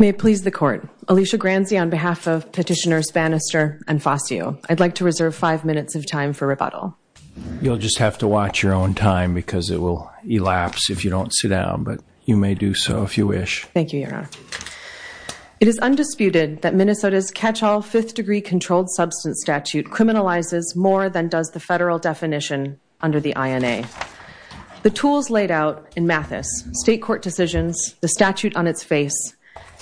May it please the court, Alicia Granzi on behalf of Petitioners Bannister and Fascio, I'd like to reserve five minutes of time for rebuttal. You'll just have to watch your own time because it will elapse if you don't sit down, but you may do so if you wish. Thank you, Your Honor. It is undisputed that Minnesota's catch-all fifth-degree controlled substance statute criminalizes more than does the federal definition under the INA. The tools laid out in Mathis, state court decisions, the statute on its face,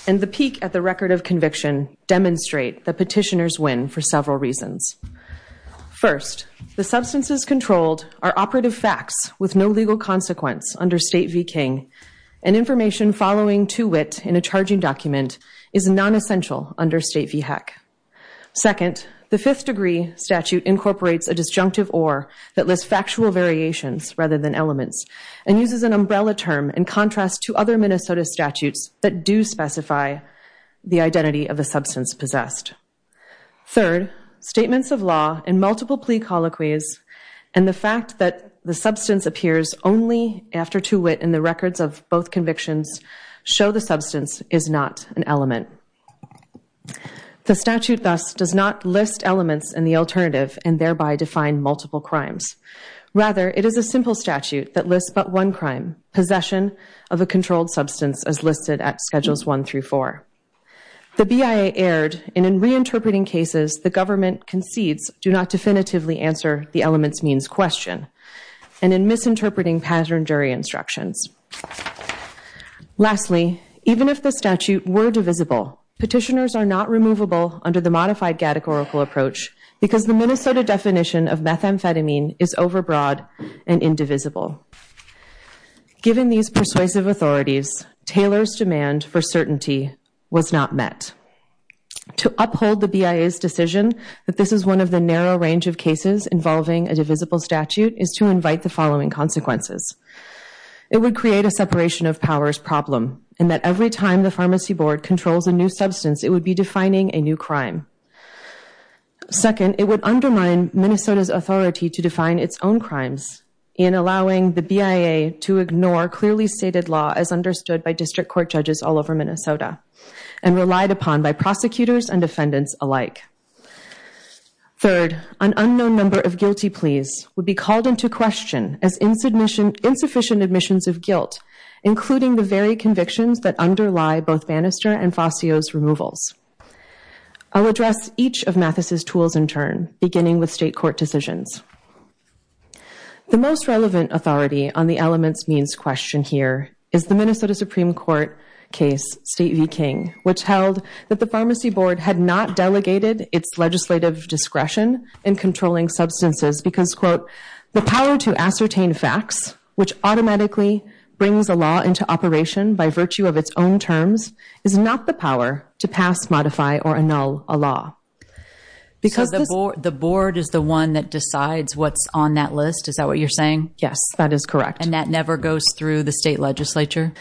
and the peak at the record of conviction demonstrate that petitioners win for several reasons. First, the substances controlled are operative facts with no legal consequence under State v. King, and information following to wit in a charging document is non-essential under State v. Heck. Second, the fifth-degree statute incorporates a disjunctive or that lists factual variations rather than elements and uses an umbrella term in contrast to other Minnesota statutes that do specify the identity of a substance possessed. Third, statements of law and multiple plea colloquies and the fact that the substance appears only after to wit in the records of both convictions show the substance is not an element. The statute, thus, does not list elements in the alternative and thereby define multiple crimes. Rather, it is a simple statute that lists but one crime, possession of a controlled substance as listed at Schedules 1 through 4. The BIA erred in reinterpreting cases the government concedes do not definitively answer the elements means question and in misinterpreting pattern jury instructions. Lastly, even if the statute were divisible, petitioners are not removable under the modified categorical approach because the Minnesota definition of methamphetamine is overbroad and indivisible. Given these persuasive authorities, Taylor's demand for certainty was not met. To uphold the BIA's decision that this is one of the narrow range of cases involving a divisible statute is to invite the following consequences. It would create a separation of powers problem in that every time the pharmacy board controls a new substance, it would be defining a new crime. Second, it would undermine Minnesota's authority to define its own crimes in allowing the BIA to ignore clearly stated law as understood by district court judges all over Minnesota and relied upon by prosecutors and defendants alike. Third, an unknown number of guilty pleas would be called into question as insufficient admissions of guilt, including the very convictions that underlie both Bannister and Fascio's removals. I'll address each of Mathis's tools in turn, beginning with state court decisions. The most relevant authority on the elements means question here is the Minnesota Supreme Court case, State v. King, which held that the pharmacy board had not delegated its legislative discretion in controlling substances because, quote, the power to ascertain facts, which automatically brings a law into operation by virtue of its own terms, is not the power to pass, modify, or annul a law. Because the board is the one that decides what's on that list? Is that what you're saying? Yes, that is correct. And that never goes through the state legislature?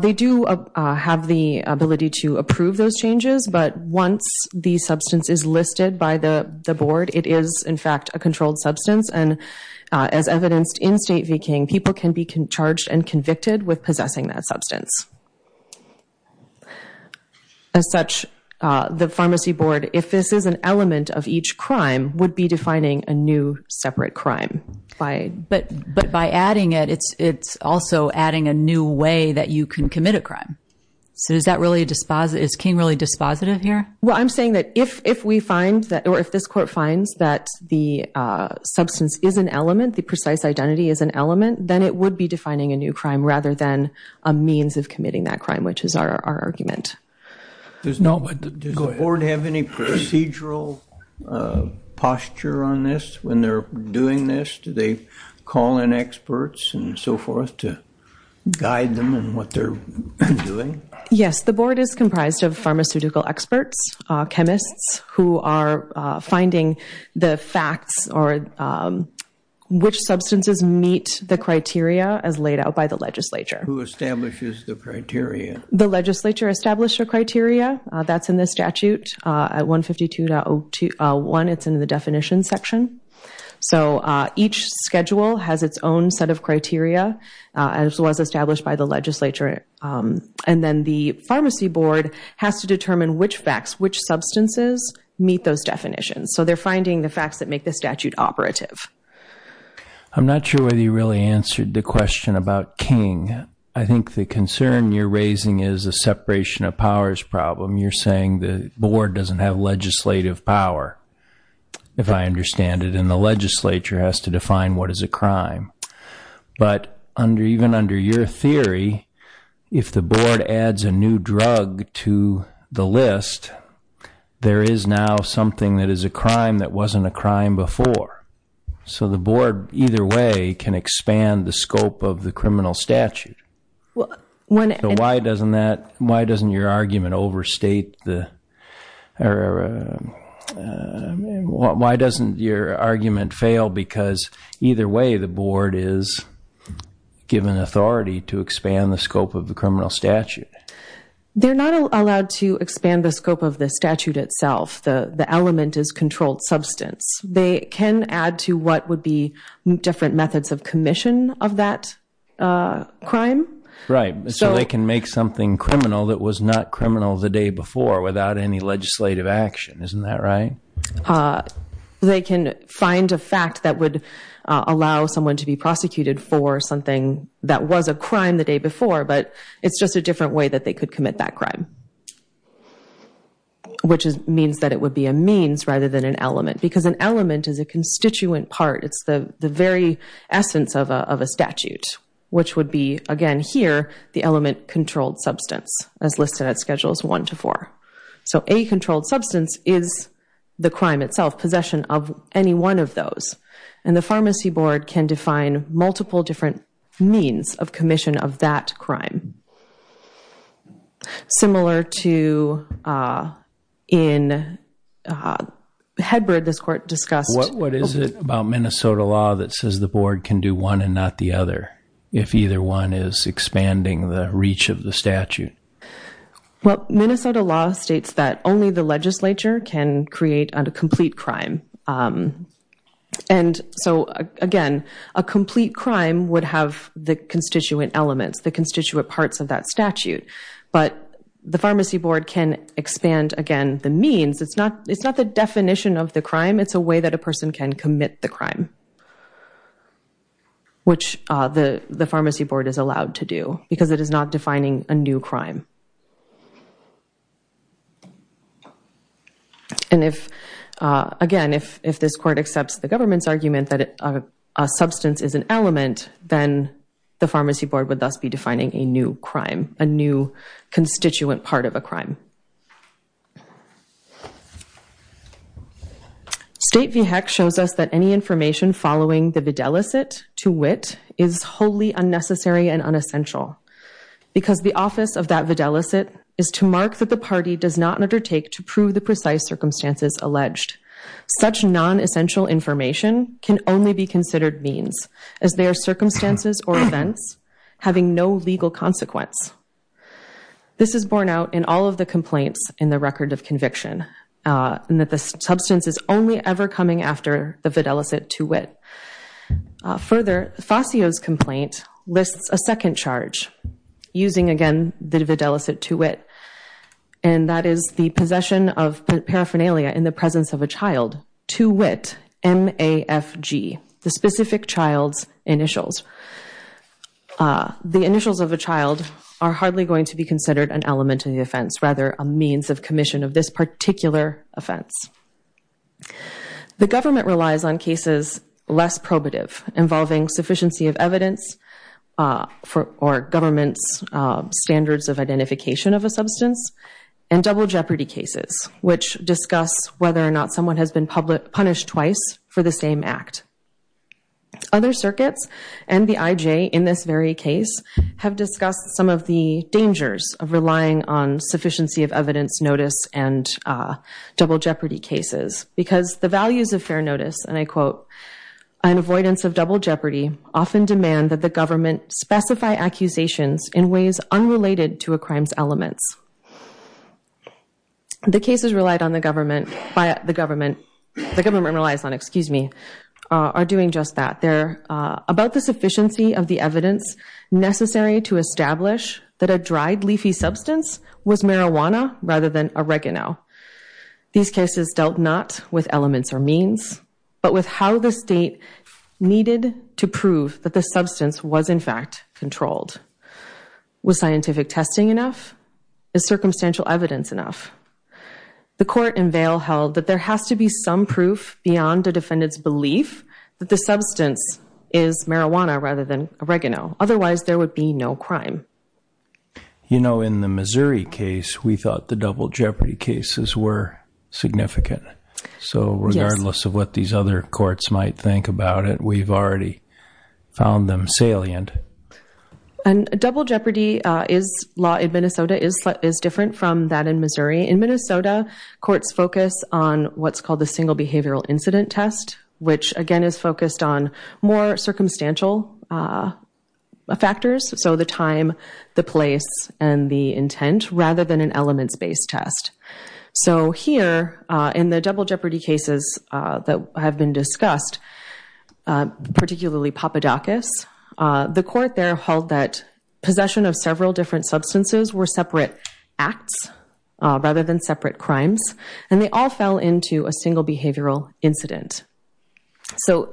They do have the ability to approve those changes, but once the substance is listed by the board, it is, in fact, a controlled substance. And as evidenced in State v. King, people can be charged and convicted with possessing that substance. As such, the pharmacy board, if this is an element of each crime, would be defining a new separate crime. But by adding it, it's also adding a new way that you can commit a crime. So is King really dispositive here? Well, I'm saying that if this court finds that the substance is an element, the precise identity is an element, then it would be defining a new crime rather than a means of committing that crime, which is our argument. Does the board have any procedural posture on this when they're doing this? Do they call in experts and so forth to guide them in what they're doing? Yes, the board is comprised of pharmaceutical experts, chemists who are finding the facts or which substances meet the criteria as laid out by the legislature. Who establishes the criteria? The legislature established a criteria. That's in the statute at 152.01. It's in the definition section. So each schedule has its own set of criteria, as was established by the legislature. And then the pharmacy board has to determine which facts, which substances meet those definitions. So they're finding the facts that make the statute operative. I'm not sure whether you really answered the question about King. I think the concern you're raising is a separation of powers problem. You're saying the board doesn't have legislative power, if I understand it, and the legislature has to define what is a crime. But even under your theory, if the board adds a new drug to the list, there is now something that is a crime that wasn't a crime before. So the board, either way, can expand the scope of the criminal statute. So why doesn't that, why doesn't your argument overstate the, why doesn't your argument fail? Because either way, the board is given authority to expand the scope of the criminal statute. They're not allowed to expand the scope of the statute itself. The element is controlled substance. They can add to what would be different methods of commission of that crime. Right, so they can make something criminal that was not criminal the day before without any legislative action, isn't that right? They can find a fact that would allow someone to be prosecuted for something that was a crime the day before, but it's just a different way that they could commit that crime. Which means that it would be a means rather than an element. Because an element is a constituent part. It's the very essence of a statute. Which would be, again here, the element controlled substance, as listed at schedules one to four. So a controlled substance is the crime itself, possession of any one of those. And the pharmacy board can define multiple different means of commission of that crime. Similar to in Hedberd, this court discussed- What is it about Minnesota law that says the board can do one and not the other if either one is expanding the reach of the statute? Well, Minnesota law states that only the legislature can create a complete crime. And so again, a complete crime would have the constituent elements, the constituent parts of that statute. But the pharmacy board can expand, again, the means. It's not the definition of the crime. It's a way that a person can commit the crime. Which the pharmacy board is allowed to do, because it is not defining a new crime. And if, again, if this court accepts the government's argument that a substance is an element, then the pharmacy board would thus be defining a new crime, a new constituent part of a crime. State VHEC shows us that any information following the videlicet to wit is wholly unnecessary and unessential. Because the office of that videlicet is to mark that the party does not undertake to prove the precise circumstances alleged. Such non-essential information can only be considered means, as they are circumstances or events having no legal consequence. This is borne out in all of the complaints in the record of conviction. And that the substance is only ever coming after the videlicet to wit. Further, Fasio's complaint lists a second charge using, again, the videlicet to wit. And that is the possession of paraphernalia in the presence of a child. To wit, M-A-F-G, the specific child's initials. The initials of a child are hardly going to be considered an element of the offense, rather a means of commission of this particular offense. The government relies on cases less probative, involving sufficiency of evidence or government's standards of identification of a substance. And double jeopardy cases, which discuss whether or not someone has been punished twice for the same act. Other circuits, and the IJ in this very case, have discussed some of the dangers of relying on sufficiency of evidence notice and double jeopardy cases. Because the values of fair notice, and I quote, an avoidance of double jeopardy often demand that the government specify accusations in ways unrelated to a crime's elements. The cases relied on the government, the government relies on, excuse me, are doing just that. They're about the sufficiency of the evidence necessary to establish that a dried leafy substance was marijuana rather than oregano. These cases dealt not with elements or means, but with how the state needed to prove that the substance was in fact controlled. Was scientific testing enough? Is circumstantial evidence enough? The court in Vail held that there has to be some proof beyond the defendant's belief that the substance is marijuana rather than oregano. Otherwise, there would be no crime. You know, in the Missouri case, we thought the double jeopardy cases were significant. So regardless of what these other courts might think about it, we've already found them salient. And double jeopardy law in Minnesota is different from that in Missouri. In Minnesota, courts focus on what's called the single behavioral incident test, which again is focused on more circumstantial factors. So the time, the place, and the intent, rather than an elements-based test. So here, in the double jeopardy cases that have been discussed, particularly Papadakis, the court there held that possession of several different substances were separate acts rather than separate crimes, and they all fell into a single behavioral incident. So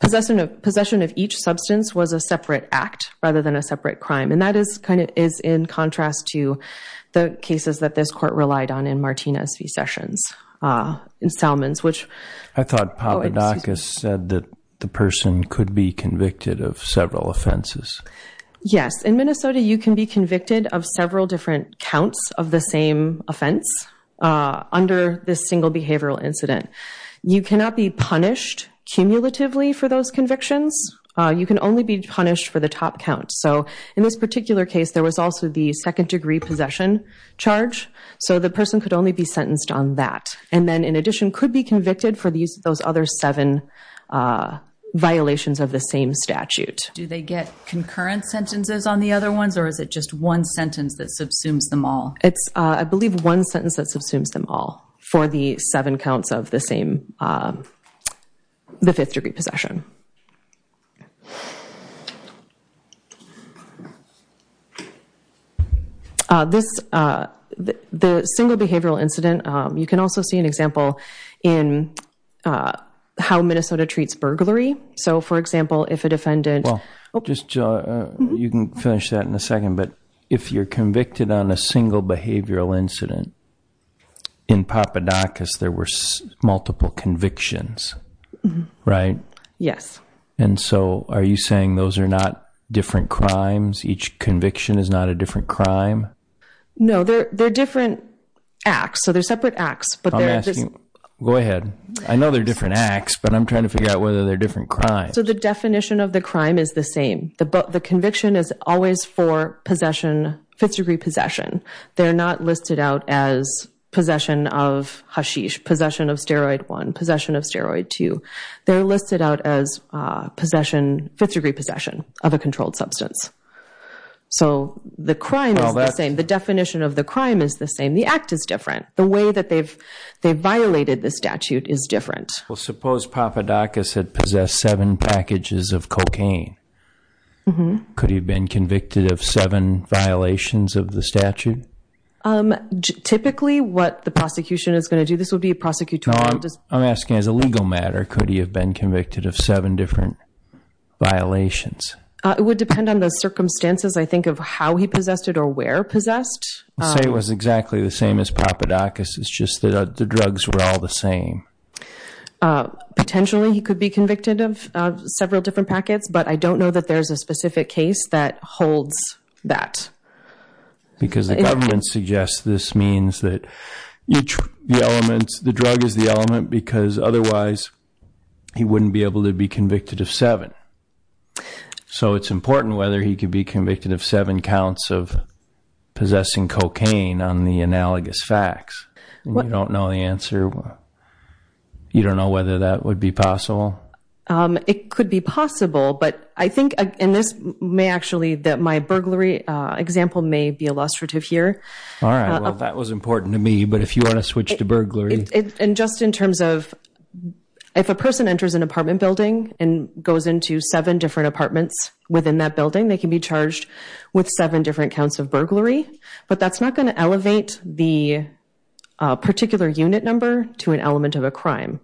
possession of each substance was a separate act rather than a separate crime. And that is in contrast to the cases that this court relied on in Martinez v. Sessions, in Salmon's, which... I thought Papadakis said that the person could be convicted of several offenses. Yes. In Minnesota, you can be convicted of several different counts of the same offense under this single behavioral incident. You cannot be punished cumulatively for those convictions. You can only be punished for the top count. So in this particular case, there was also the second-degree possession charge. So the person could only be sentenced on that. And then, in addition, could be convicted for those other seven violations of the same statute. Do they get concurrent sentences on the other ones, or is it just one sentence that subsumes them all? It's, I believe, one sentence that subsumes them all for the seven counts of the same, the fifth-degree possession. The single behavioral incident, you can also see an example in how Minnesota treats burglary. So, for example, if a defendant... You can finish that in a second, but if you're convicted on a single behavioral incident in Papadakis, there were multiple convictions, right? Yes. And so, are you saying those are not different crimes? Each conviction is not a different crime? No, they're different acts, so they're separate acts. I'm asking... Go ahead. I know they're different acts, but I'm trying to figure out whether they're different crimes. So the definition of the crime is the same. The conviction is always for possession, fifth-degree possession. They're not listed out as possession of hashish, possession of steroid one, possession of steroid two. They're listed out as possession, fifth-degree possession of a controlled substance. So the crime is the same. The definition of the crime is the same. The act is different. The way that they've violated the statute is different. Well, suppose Papadakis had possessed seven packages of cocaine. Could he have been convicted of seven violations of the statute? Typically, what the prosecution is going to do... This would be a prosecutorial... I'm asking, as a legal matter, could he have been convicted of seven different violations? It would depend on the circumstances. I think of how he possessed it or where possessed. Let's say it was exactly the same as Papadakis. It's just that the drugs were all the same. Potentially, he could be convicted of several different packets, but I don't know that there's a specific case that holds that. Because the government suggests this means that the drug is the element because otherwise he wouldn't be able to be convicted of seven. So it's important whether he could be convicted of seven counts of possessing cocaine on the analogous facts. You don't know the answer? You don't know whether that would be possible? It could be possible, but I think... My burglary example may be illustrative here. That was important to me, but if you want to switch to burglary... And just in terms of... If a person enters an apartment building and goes into seven different apartments within that building, they can be charged with seven different counts of burglary, but that's not going to elevate the particular unit number to an element of a crime.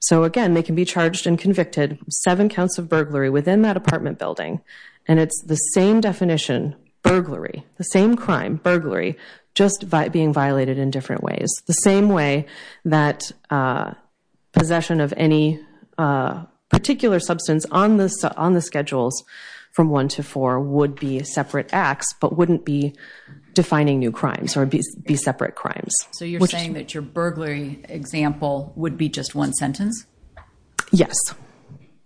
So again, they can be charged and convicted of seven counts of burglary within that apartment building, and it's the same definition, burglary, the same crime, burglary, just being violated in different ways. The same way that possession of any particular substance on the schedules from one to four would be separate acts, but wouldn't be defining new crimes or be separate crimes. So you're saying that your burglary example would be just one sentence? Yes.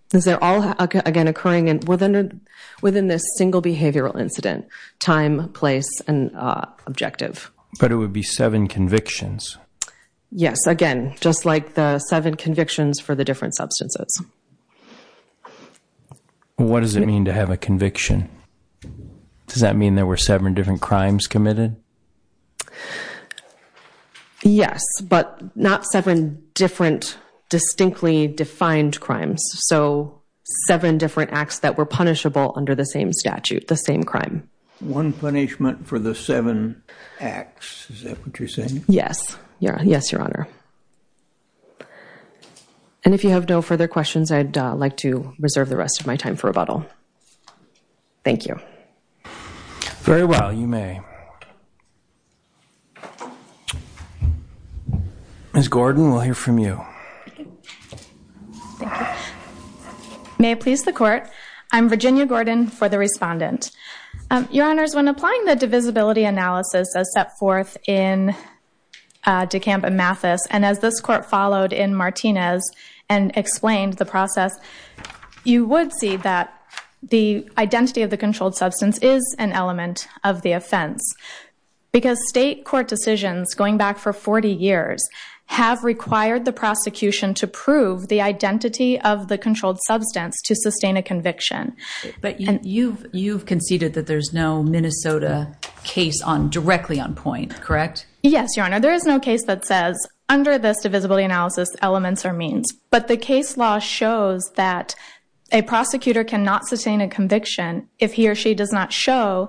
Because they're all, again, occurring within this single behavioral incident, time, place, and objective. But it would be seven convictions? Yes, again, just like the seven convictions for the different substances. What does it mean to have a conviction? Does that mean there were seven different crimes committed? Yes, but not seven different distinctly defined crimes. So seven different acts that were punishable under the same statute, the same crime. One punishment for the seven acts, is that what you're saying? Yes. Yes, Your Honor. And if you have no further questions, I'd like to reserve the rest of my time for rebuttal. Thank you. Very well, you may. Ms. Gordon, we'll hear from you. Thank you. May it please the Court, I'm Virginia Gordon for the respondent. Your Honors, when applying the divisibility analysis as set forth in DeCamp and Mathis, and as this Court followed in Martinez and explained the process, you would see that the identity of the controlled substance is an element of the offense. Because state court decisions, going back for 40 years, have required the prosecution to prove the identity of the controlled substance to sustain a conviction. But you've conceded that there's no Minnesota case directly on point, correct? Yes, Your Honor. There is no case that says, under this divisibility analysis, elements are means. But the case law shows that a prosecutor cannot sustain a conviction if he or she does not show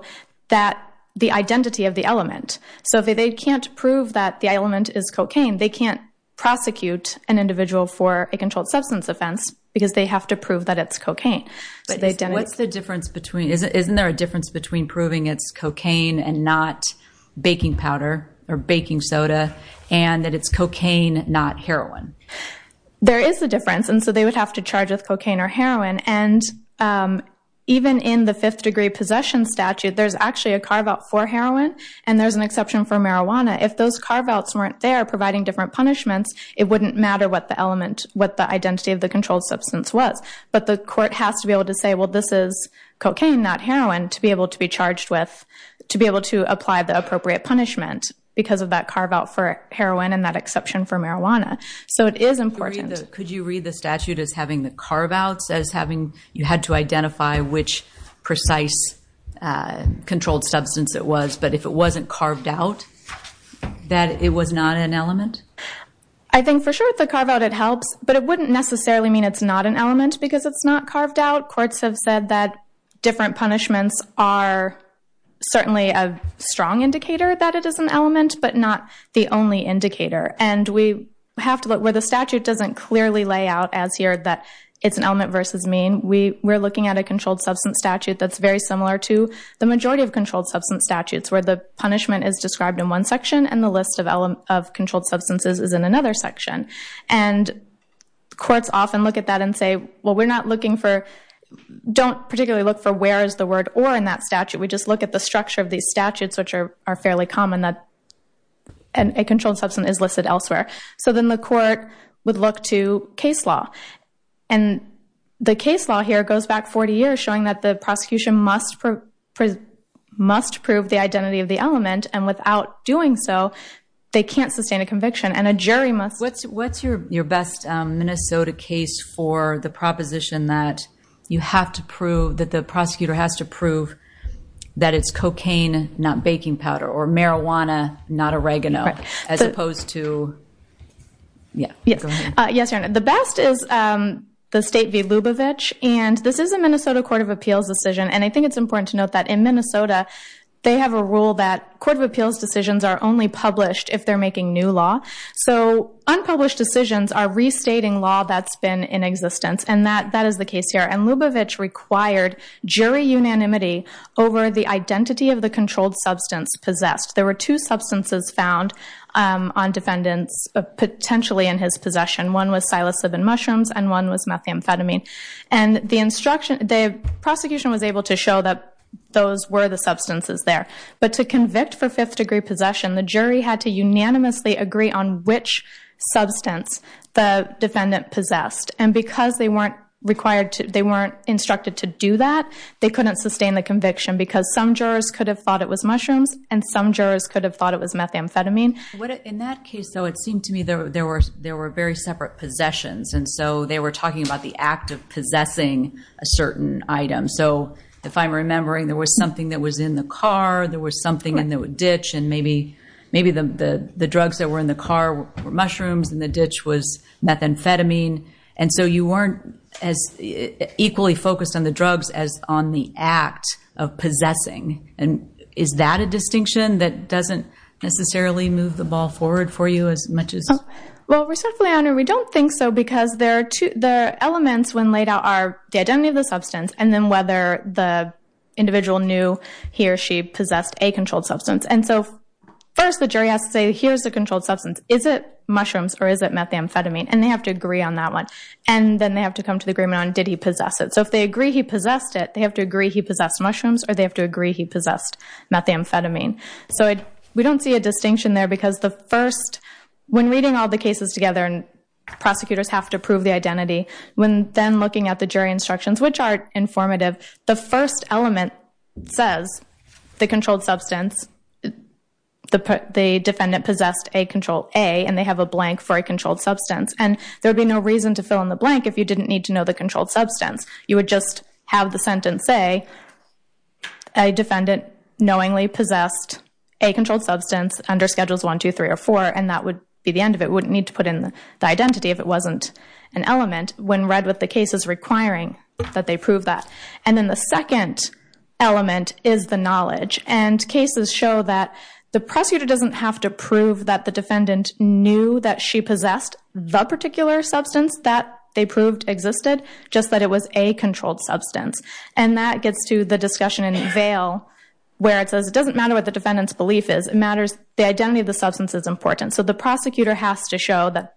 the identity of the element. So if they can't prove that the element is cocaine, they can't prosecute an individual for a controlled substance offense because they have to prove that it's cocaine. Isn't there a difference between proving it's cocaine and not baking powder or baking soda, and that it's cocaine, not heroin? There is a difference, and so they would have to charge with cocaine or heroin. And even in the Fifth Degree Possession Statute, there's actually a carve-out for heroin, and there's an exception for marijuana. If those carve-outs weren't there providing different punishments, it wouldn't matter what the identity of the controlled substance was. But the court has to be able to say, well, this is cocaine, not heroin, to be able to apply the appropriate punishment because of that carve-out for heroin and that exception for marijuana. So it is important. Could you read the statute as having the carve-outs, as having you had to identify which precise controlled substance it was, but if it wasn't carved out, that it was not an element? I think for sure the carve-out, it helps, but it wouldn't necessarily mean it's not an element because it's not carved out. Courts have said that different punishments are certainly a strong indicator that it is an element, but not the only indicator. And we have to look where the statute doesn't clearly lay out as here that it's an element versus mean. We're looking at a controlled substance statute that's very similar to the majority of controlled substance statutes where the punishment is described in one section and the list of controlled substances is in another section. And courts often look at that and say, well, we're not looking for, don't particularly look for where is the word or in that statute. We just look at the structure of these statutes, which are fairly common that a controlled substance is listed elsewhere. So then the court would look to case law, and the case law here goes back 40 years showing that the prosecution must prove the identity of the element, and without doing so, they can't sustain a conviction, and a jury must. What's your best Minnesota case for the proposition that you have to prove, that the prosecutor has to prove that it's cocaine, not baking powder, or marijuana, not oregano, as opposed to, yeah, go ahead. Yes, Your Honor. The best is the state v. Lubavitch, and this is a Minnesota Court of Appeals decision, and I think it's important to note that in Minnesota, they have a rule that Court of Appeals decisions are only published if they're making new law. So unpublished decisions are restating law that's been in existence, and that is the case here. And Lubavitch required jury unanimity over the identity of the controlled substance possessed. There were two substances found on defendants potentially in his possession. One was psilocybin mushrooms, and one was methamphetamine, and the prosecution was able to show that those were the substances there. But to convict for fifth-degree possession, the jury had to unanimously agree on which substance the defendant possessed, and because they weren't instructed to do that, they couldn't sustain the conviction because some jurors could have thought it was mushrooms, and some jurors could have thought it was methamphetamine. In that case, though, it seemed to me there were very separate possessions, and so they were talking about the act of possessing a certain item. So if I'm remembering, there was something that was in the car, there was something in the ditch, and maybe the drugs that were in the car were mushrooms and the ditch was methamphetamine, and so you weren't as equally focused on the drugs as on the act of possessing. And is that a distinction that doesn't necessarily move the ball forward for you as much as? Well, respectfully, Your Honor, we don't think so, because the elements when laid out are the identity of the substance and then whether the individual knew he or she possessed a controlled substance. And so first the jury has to say, here's the controlled substance. Is it mushrooms or is it methamphetamine? And they have to agree on that one. And then they have to come to the agreement on did he possess it. So if they agree he possessed it, they have to agree he possessed mushrooms or they have to agree he possessed methamphetamine. So we don't see a distinction there because the first, when reading all the cases together and prosecutors have to prove the identity, when then looking at the jury instructions, which are informative, the first element says the controlled substance, the defendant possessed a controlled A, and they have a blank for a controlled substance. And there would be no reason to fill in the blank if you didn't need to know the controlled substance. You would just have the sentence say, a defendant knowingly possessed a controlled substance under Schedules I, II, III, or IV, and that would be the end of it. We wouldn't need to put in the identity if it wasn't an element when read with the cases requiring that they prove that. And then the second element is the knowledge. And cases show that the prosecutor doesn't have to prove that the defendant knew that she possessed the particular substance that they proved existed, just that it was a controlled substance. And that gets to the discussion in Vail where it says it doesn't matter what the defendant's belief is. It matters the identity of the substance is important. So the prosecutor has to show that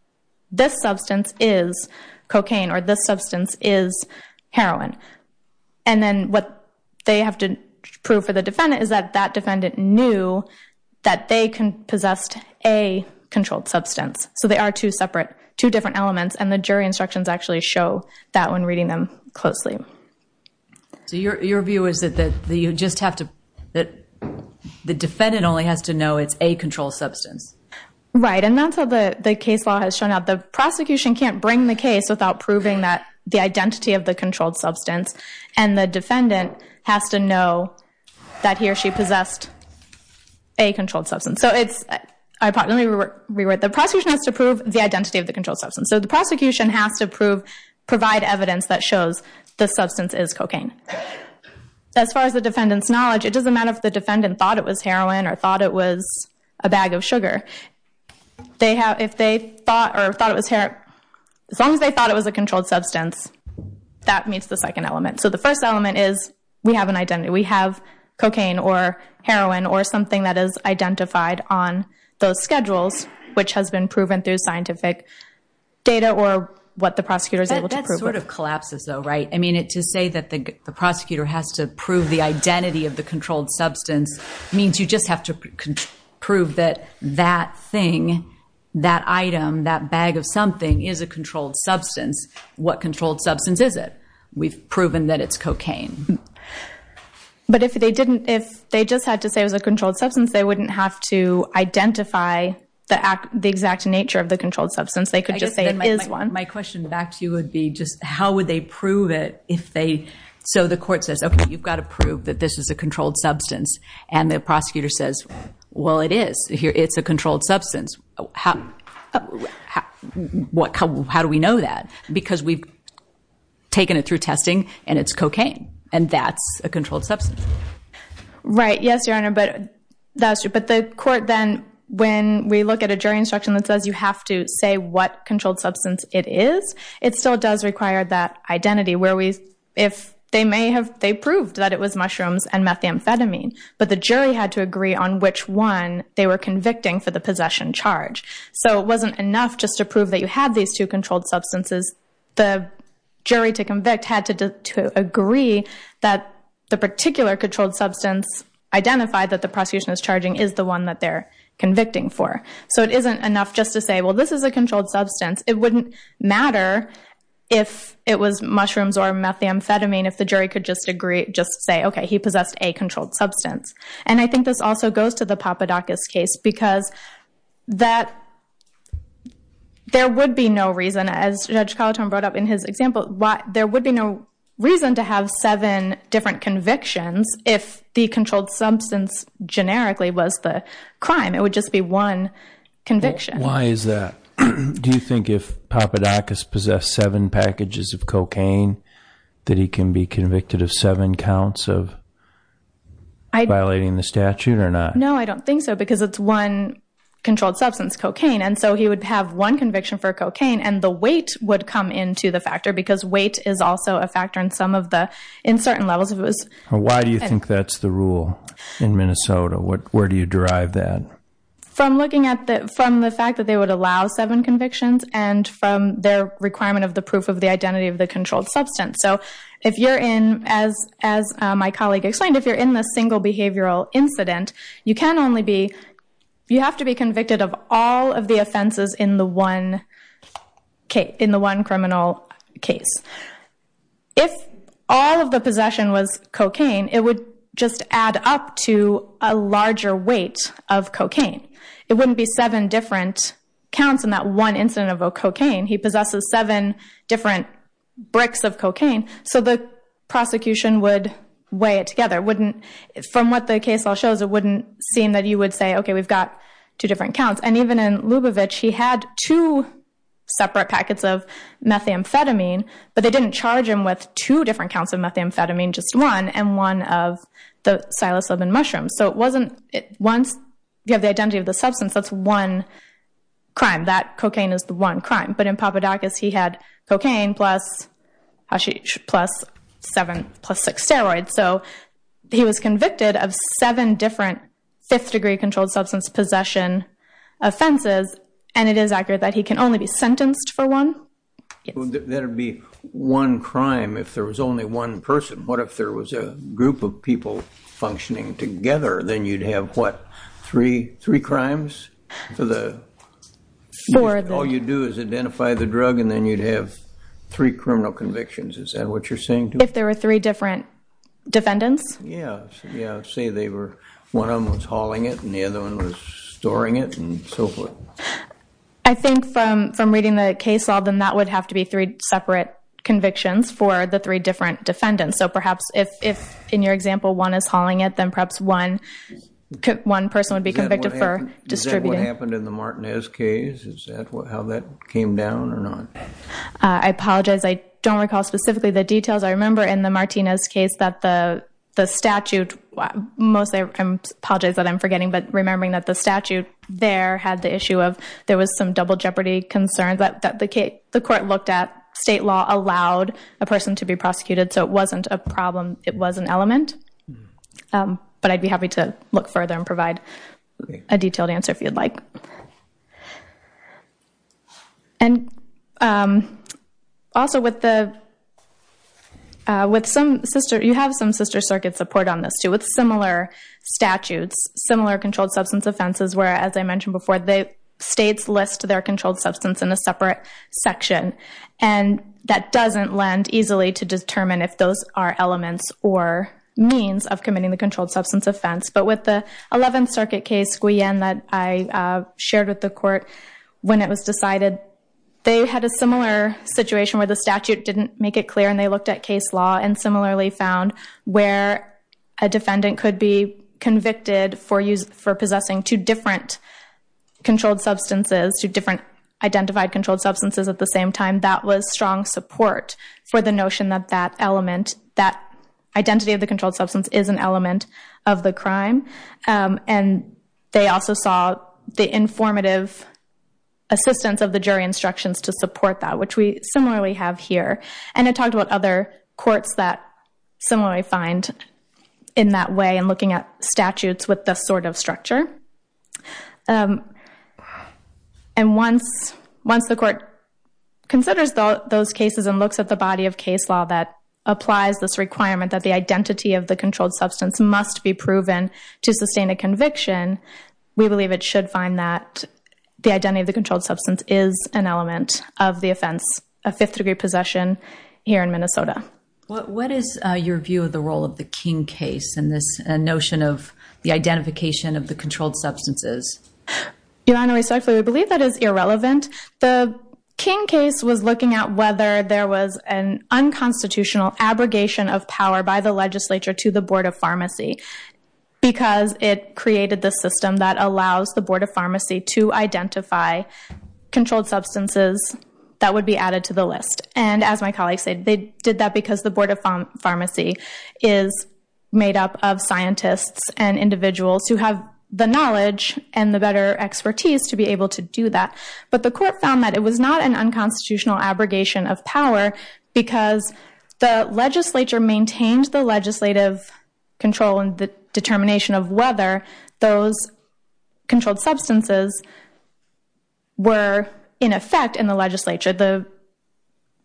this substance is cocaine or this substance is heroin. And then what they have to prove for the defendant is that that defendant knew that they possessed a controlled substance. So they are two separate, two different elements, and the jury instructions actually show that when reading them closely. So your view is that the defendant only has to know it's a controlled substance? Right, and that's how the case law has shown up. The prosecution can't bring the case without proving the identity of the controlled substance, and the defendant has to know that he or she possessed a controlled substance. So it's, I probably rewrote, the prosecution has to prove the identity of the controlled substance. So the prosecution has to prove, provide evidence that shows the substance is cocaine. As far as the defendant's knowledge, it doesn't matter if the defendant thought it was heroin or thought it was a bag of sugar. If they thought or thought it was heroin, as long as they thought it was a controlled substance, that meets the second element. So the first element is we have an identity. We have cocaine or heroin or something that is identified on those schedules, which has been proven through scientific data or what the prosecutor is able to prove. That sort of collapses though, right? I mean, to say that the prosecutor has to prove the identity of the controlled substance means you just have to prove that that thing, that item, that bag of something, is a controlled substance. What controlled substance is it? We've proven that it's cocaine. But if they didn't, if they just had to say it was a controlled substance, they wouldn't have to identify the exact nature of the controlled substance. They could just say it is one. My question back to you would be just how would they prove it if they, so the court says, okay, you've got to prove that this is a controlled substance. And the prosecutor says, well, it is. It's a controlled substance. How do we know that? Because we've taken it through testing, and it's cocaine. And that's a controlled substance. Right. Yes, Your Honor, but the court then, when we look at a jury instruction that says you have to say what controlled substance it is, it still does require that identity where we, if they may have, they proved that it was mushrooms and methamphetamine. But the jury had to agree on which one they were convicting for the possession charge. So it wasn't enough just to prove that you had these two controlled substances. The jury to convict had to agree that the particular controlled substance identified that the prosecution is charging is the one that they're convicting for. So it isn't enough just to say, well, this is a controlled substance. It wouldn't matter if it was mushrooms or methamphetamine if the jury could just agree, just say, okay, he possessed a controlled substance. And I think this also goes to the Papadakis case because there would be no reason, as Judge Collitone brought up in his example, there would be no reason to have seven different convictions if the controlled substance generically was the crime. It would just be one conviction. Why is that? Do you think if Papadakis possessed seven packages of cocaine that he can be convicted of seven counts of violating the statute or not? No, I don't think so because it's one controlled substance, cocaine. And so he would have one conviction for cocaine, and the weight would come into the factor because weight is also a factor in some of the uncertain levels. Why do you think that's the rule in Minnesota? Where do you derive that? From looking at the fact that they would allow seven convictions and from their requirement of the proof of the identity of the controlled substance. So if you're in, as my colleague explained, if you're in the single behavioral incident, you can only be, you have to be convicted of all of the offenses in the one criminal case. If all of the possession was cocaine, it would just add up to a larger weight of cocaine. It wouldn't be seven different counts in that one incident of cocaine. He possesses seven different bricks of cocaine, so the prosecution would weigh it together. From what the case law shows, it wouldn't seem that you would say, okay, we've got two different counts. And even in Lubavitch, he had two separate packets of methamphetamine, but they didn't charge him with two different counts of methamphetamine, just one, and one of the Silas Levin mushrooms. So it wasn't, once you have the identity of the substance, that's one crime. That cocaine is the one crime. But in Papadakis, he had cocaine plus seven, plus six steroids. So he was convicted of seven different fifth-degree controlled substance possession offenses, and it is accurate that he can only be sentenced for one. That would be one crime if there was only one person. What if there was a group of people functioning together? Then you'd have, what, three crimes? All you'd do is identify the drug, and then you'd have three criminal convictions. Is that what you're saying? If there were three different defendants? Yeah. Say one of them was hauling it, and the other one was storing it, and so forth. I think from reading the case law, then that would have to be three separate convictions for the three different defendants. So perhaps if, in your example, one is hauling it, then perhaps one person would be convicted for distributing. Is that what happened in the Martinez case? Is that how that came down or not? I apologize. I don't recall specifically the details. I remember in the Martinez case that the statute, mostly I apologize that I'm forgetting, but remembering that the statute there had the issue of there was some double jeopardy concerns that the court looked at. State law allowed a person to be prosecuted, so it wasn't a problem. It was an element. But I'd be happy to look further and provide a detailed answer if you'd like. Also, you have some sister circuit support on this, too, with similar statutes, similar controlled substance offenses, where, as I mentioned before, states list their controlled substance in a separate section. And that doesn't lend easily to determine if those are elements or means of committing the controlled substance offense. But with the 11th Circuit case, Guillen, that I shared with the court, when it was decided they had a similar situation where the statute didn't make it clear and they looked at case law and similarly found where a defendant could be convicted for possessing two different controlled substances, two different identified controlled substances at the same time, that was strong support for the notion that that element, that identity of the controlled substance is an element of the crime. And they also saw the informative assistance of the jury instructions to support that, which we similarly have here. And it talked about other courts that similarly find in that way and looking at statutes with this sort of structure. And once the court considers those cases and looks at the body of case law that applies this requirement that the identity of the controlled substance must be proven to sustain a conviction, we believe it should find that the identity of the controlled substance is an element of the offense of fifth-degree possession here in Minnesota. What is your view of the role of the King case in this notion of the identification of the controlled substances? Your Honor, respectfully, we believe that is irrelevant. The King case was looking at whether there was an unconstitutional abrogation of power by the legislature to the Board of Pharmacy because it created the system that allows the Board of Pharmacy to identify controlled substances that would be added to the list. And as my colleagues said, they did that because the Board of Pharmacy is made up of scientists and individuals who have the knowledge and the better expertise to be able to do that. But the court found that it was not an unconstitutional abrogation of power because the legislature maintained the legislative control and the determination of whether those controlled substances were in effect in the legislature. The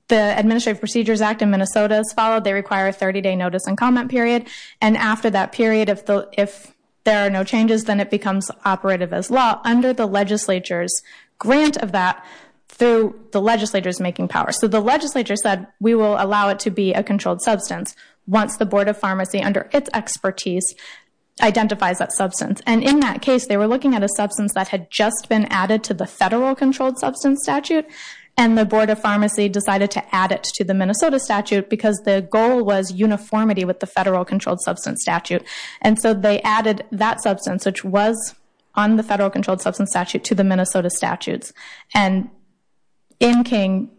Administrative Procedures Act in Minnesota is followed. They require a 30-day notice and comment period. And after that period, if there are no changes, then it becomes operative as law under the legislature's grant of that through the legislature's making power. So the legislature said, we will allow it to be a controlled substance once the Board of Pharmacy, under its expertise, identifies that substance. And in that case, they were looking at a substance that had just been added to the Federal Controlled Substance Statute, and the Board of Pharmacy decided to add it to the Minnesota statute because the goal was uniformity with the Federal Controlled Substance Statute. And so they added that substance, which was on the Federal Controlled Substance Statute, to the Minnesota statutes. And in King,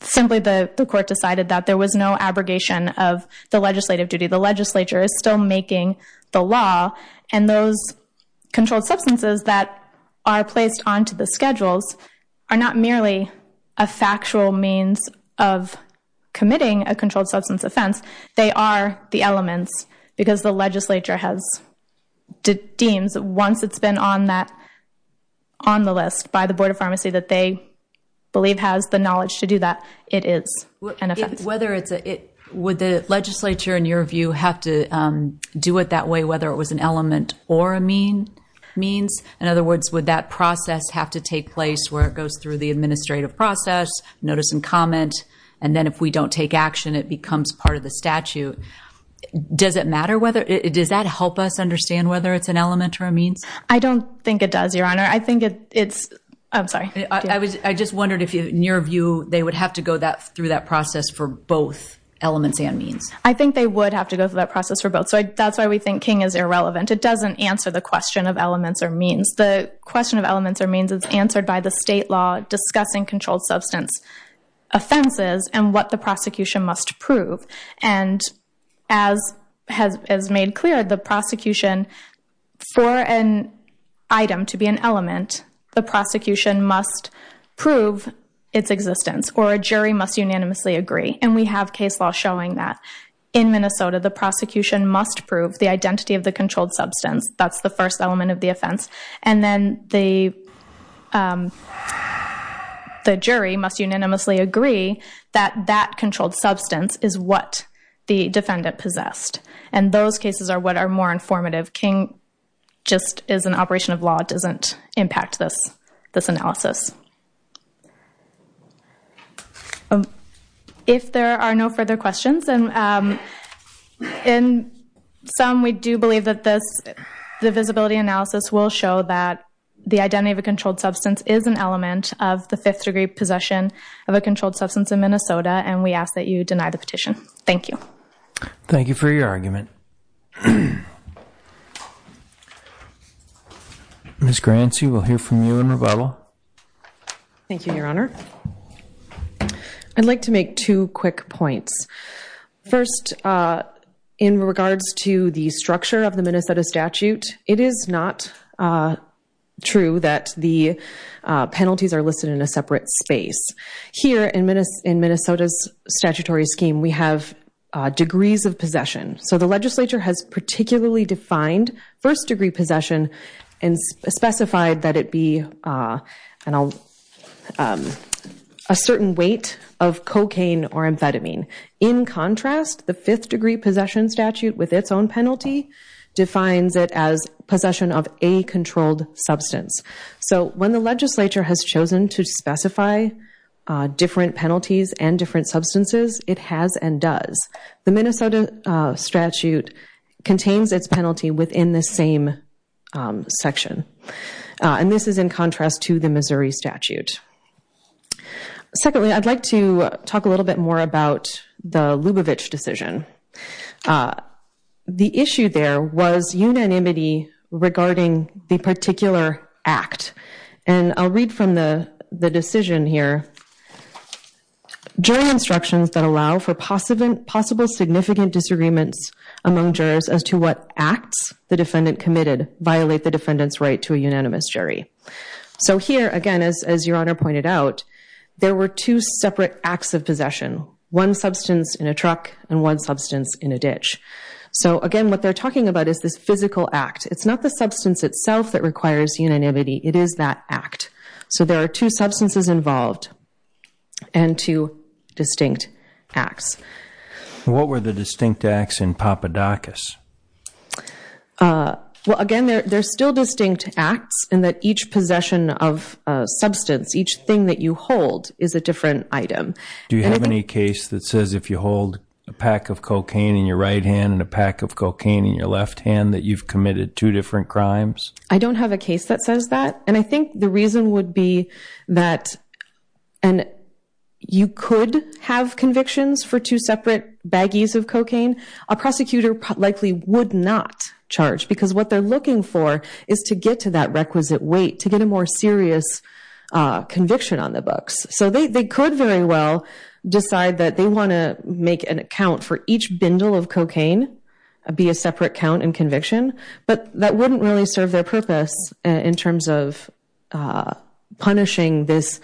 simply the court decided that there was no abrogation of the legislative duty. The legislature is still making the law, and those controlled substances that are placed onto the schedules are not merely a factual means of committing a controlled substance offense. They are the elements, because the legislature has deemed, once it's been on the list by the Board of Pharmacy that they believe Would the legislature, in your view, have to do it that way, whether it was an element or a means? In other words, would that process have to take place where it goes through the administrative process, notice and comment, and then if we don't take action it becomes part of the statute? Does that help us understand whether it's an element or a means? I don't think it does, Your Honor. I think it's – I'm sorry. I just wondered if, in your view, they would have to go through that process for both elements and means. I think they would have to go through that process for both. So that's why we think King is irrelevant. It doesn't answer the question of elements or means. The question of elements or means is answered by the state law discussing controlled substance offenses and what the prosecution must prove. And as made clear, the prosecution, for an item to be an element, the prosecution must prove its existence, or a jury must unanimously agree. And we have case law showing that. In Minnesota, the prosecution must prove the identity of the controlled substance. That's the first element of the offense. And then the jury must unanimously agree that that controlled substance is what the defendant possessed. And those cases are what are more informative. King just is an operation of law. It doesn't impact this analysis. If there are no further questions, and in some we do believe that this, the visibility analysis will show that the identity of a controlled substance is an element of the fifth-degree possession of a controlled substance in Minnesota, and we ask that you deny the petition. Thank you. Thank you for your argument. Ms. Grancy, we'll hear from you in rebuttal. Thank you, Your Honor. I'd like to make two quick points. First, in regards to the structure of the Minnesota statute, it is not true that the penalties are listed in a separate space. Here in Minnesota's statutory scheme, we have degrees of possession. So the legislature has particularly defined first-degree possession and specified that it be a certain weight of cocaine or amphetamine. In contrast, the fifth-degree possession statute, with its own penalty, defines it as possession of a controlled substance. So when the legislature has chosen to specify different penalties and different substances, it has and does. The Minnesota statute contains its penalty within the same section, and this is in contrast to the Missouri statute. Secondly, I'd like to talk a little bit more about the Lubavitch decision. The issue there was unanimity regarding the particular act, and I'll read from the decision here. Jury instructions that allow for possible significant disagreements among jurors as to what acts the defendant committed violate the defendant's right to a unanimous jury. So here, again, as Your Honor pointed out, there were two separate acts of possession, one substance in a truck and one substance in a ditch. So, again, what they're talking about is this physical act. It's not the substance itself that requires unanimity. It is that act. So there are two substances involved and two distinct acts. What were the distinct acts in Papadakis? Well, again, there are still distinct acts in that each possession of substance, each thing that you hold, is a different item. Do you have any case that says if you hold a pack of cocaine in your right hand and a pack of cocaine in your left hand that you've committed two different crimes? I don't have a case that says that. And I think the reason would be that you could have convictions for two separate baggies of cocaine. A prosecutor likely would not charge because what they're looking for is to get to that requisite weight, to get a more serious conviction on the books. So they could very well decide that they want to make an account for each bindle of cocaine, be a separate count and conviction, but that wouldn't really serve their purpose in terms of punishing this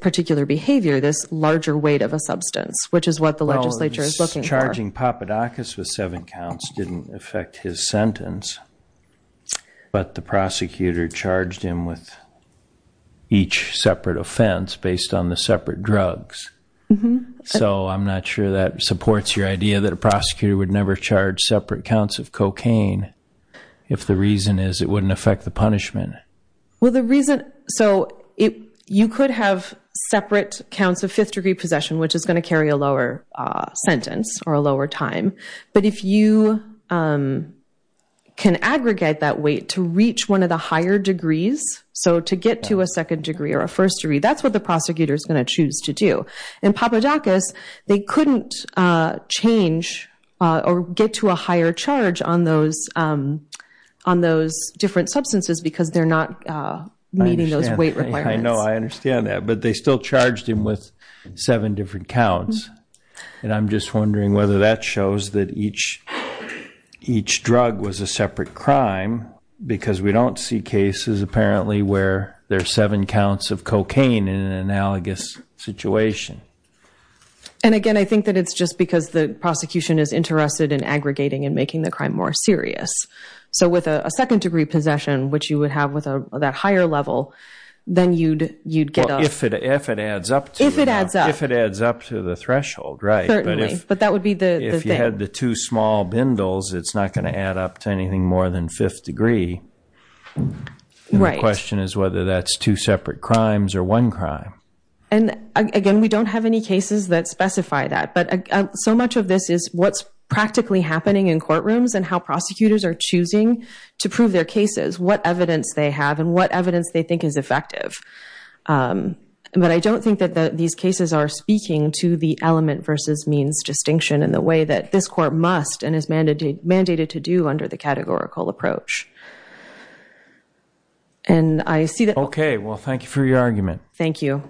particular behavior, this larger weight of a substance, which is what the legislature is looking for. Charging Papadakis with seven counts didn't affect his sentence, but the prosecutor charged him with each separate offense based on the separate drugs. So I'm not sure that supports your idea that a prosecutor would never charge separate counts of cocaine if the reason is it wouldn't affect the punishment. So you could have separate counts of fifth-degree possession, which is going to carry a lower sentence or a lower time. But if you can aggregate that weight to reach one of the higher degrees, so to get to a second degree or a first degree, that's what the prosecutor is going to choose to do. And Papadakis, they couldn't change or get to a higher charge on those different substances because they're not meeting those weight requirements. I understand that, but they still charged him with seven different counts. And I'm just wondering whether that shows that each drug was a separate crime because we don't see cases apparently where there's seven counts of cocaine in an analogous situation. And again, I think that it's just because the prosecution is interested in aggregating and making the crime more serious. So with a second-degree possession, which you would have with that higher level, then you'd get a... But that would be the thing. If you had the two small bindles, it's not going to add up to anything more than fifth degree. The question is whether that's two separate crimes or one crime. And again, we don't have any cases that specify that. But so much of this is what's practically happening in courtrooms and how prosecutors are choosing to prove their cases, what evidence they have and what evidence they think is effective. But I don't think that these cases are speaking to the element versus means distinction in the way that this court must and is mandated to do under the categorical approach. And I see that... Okay. Well, thank you for your argument. Thank you.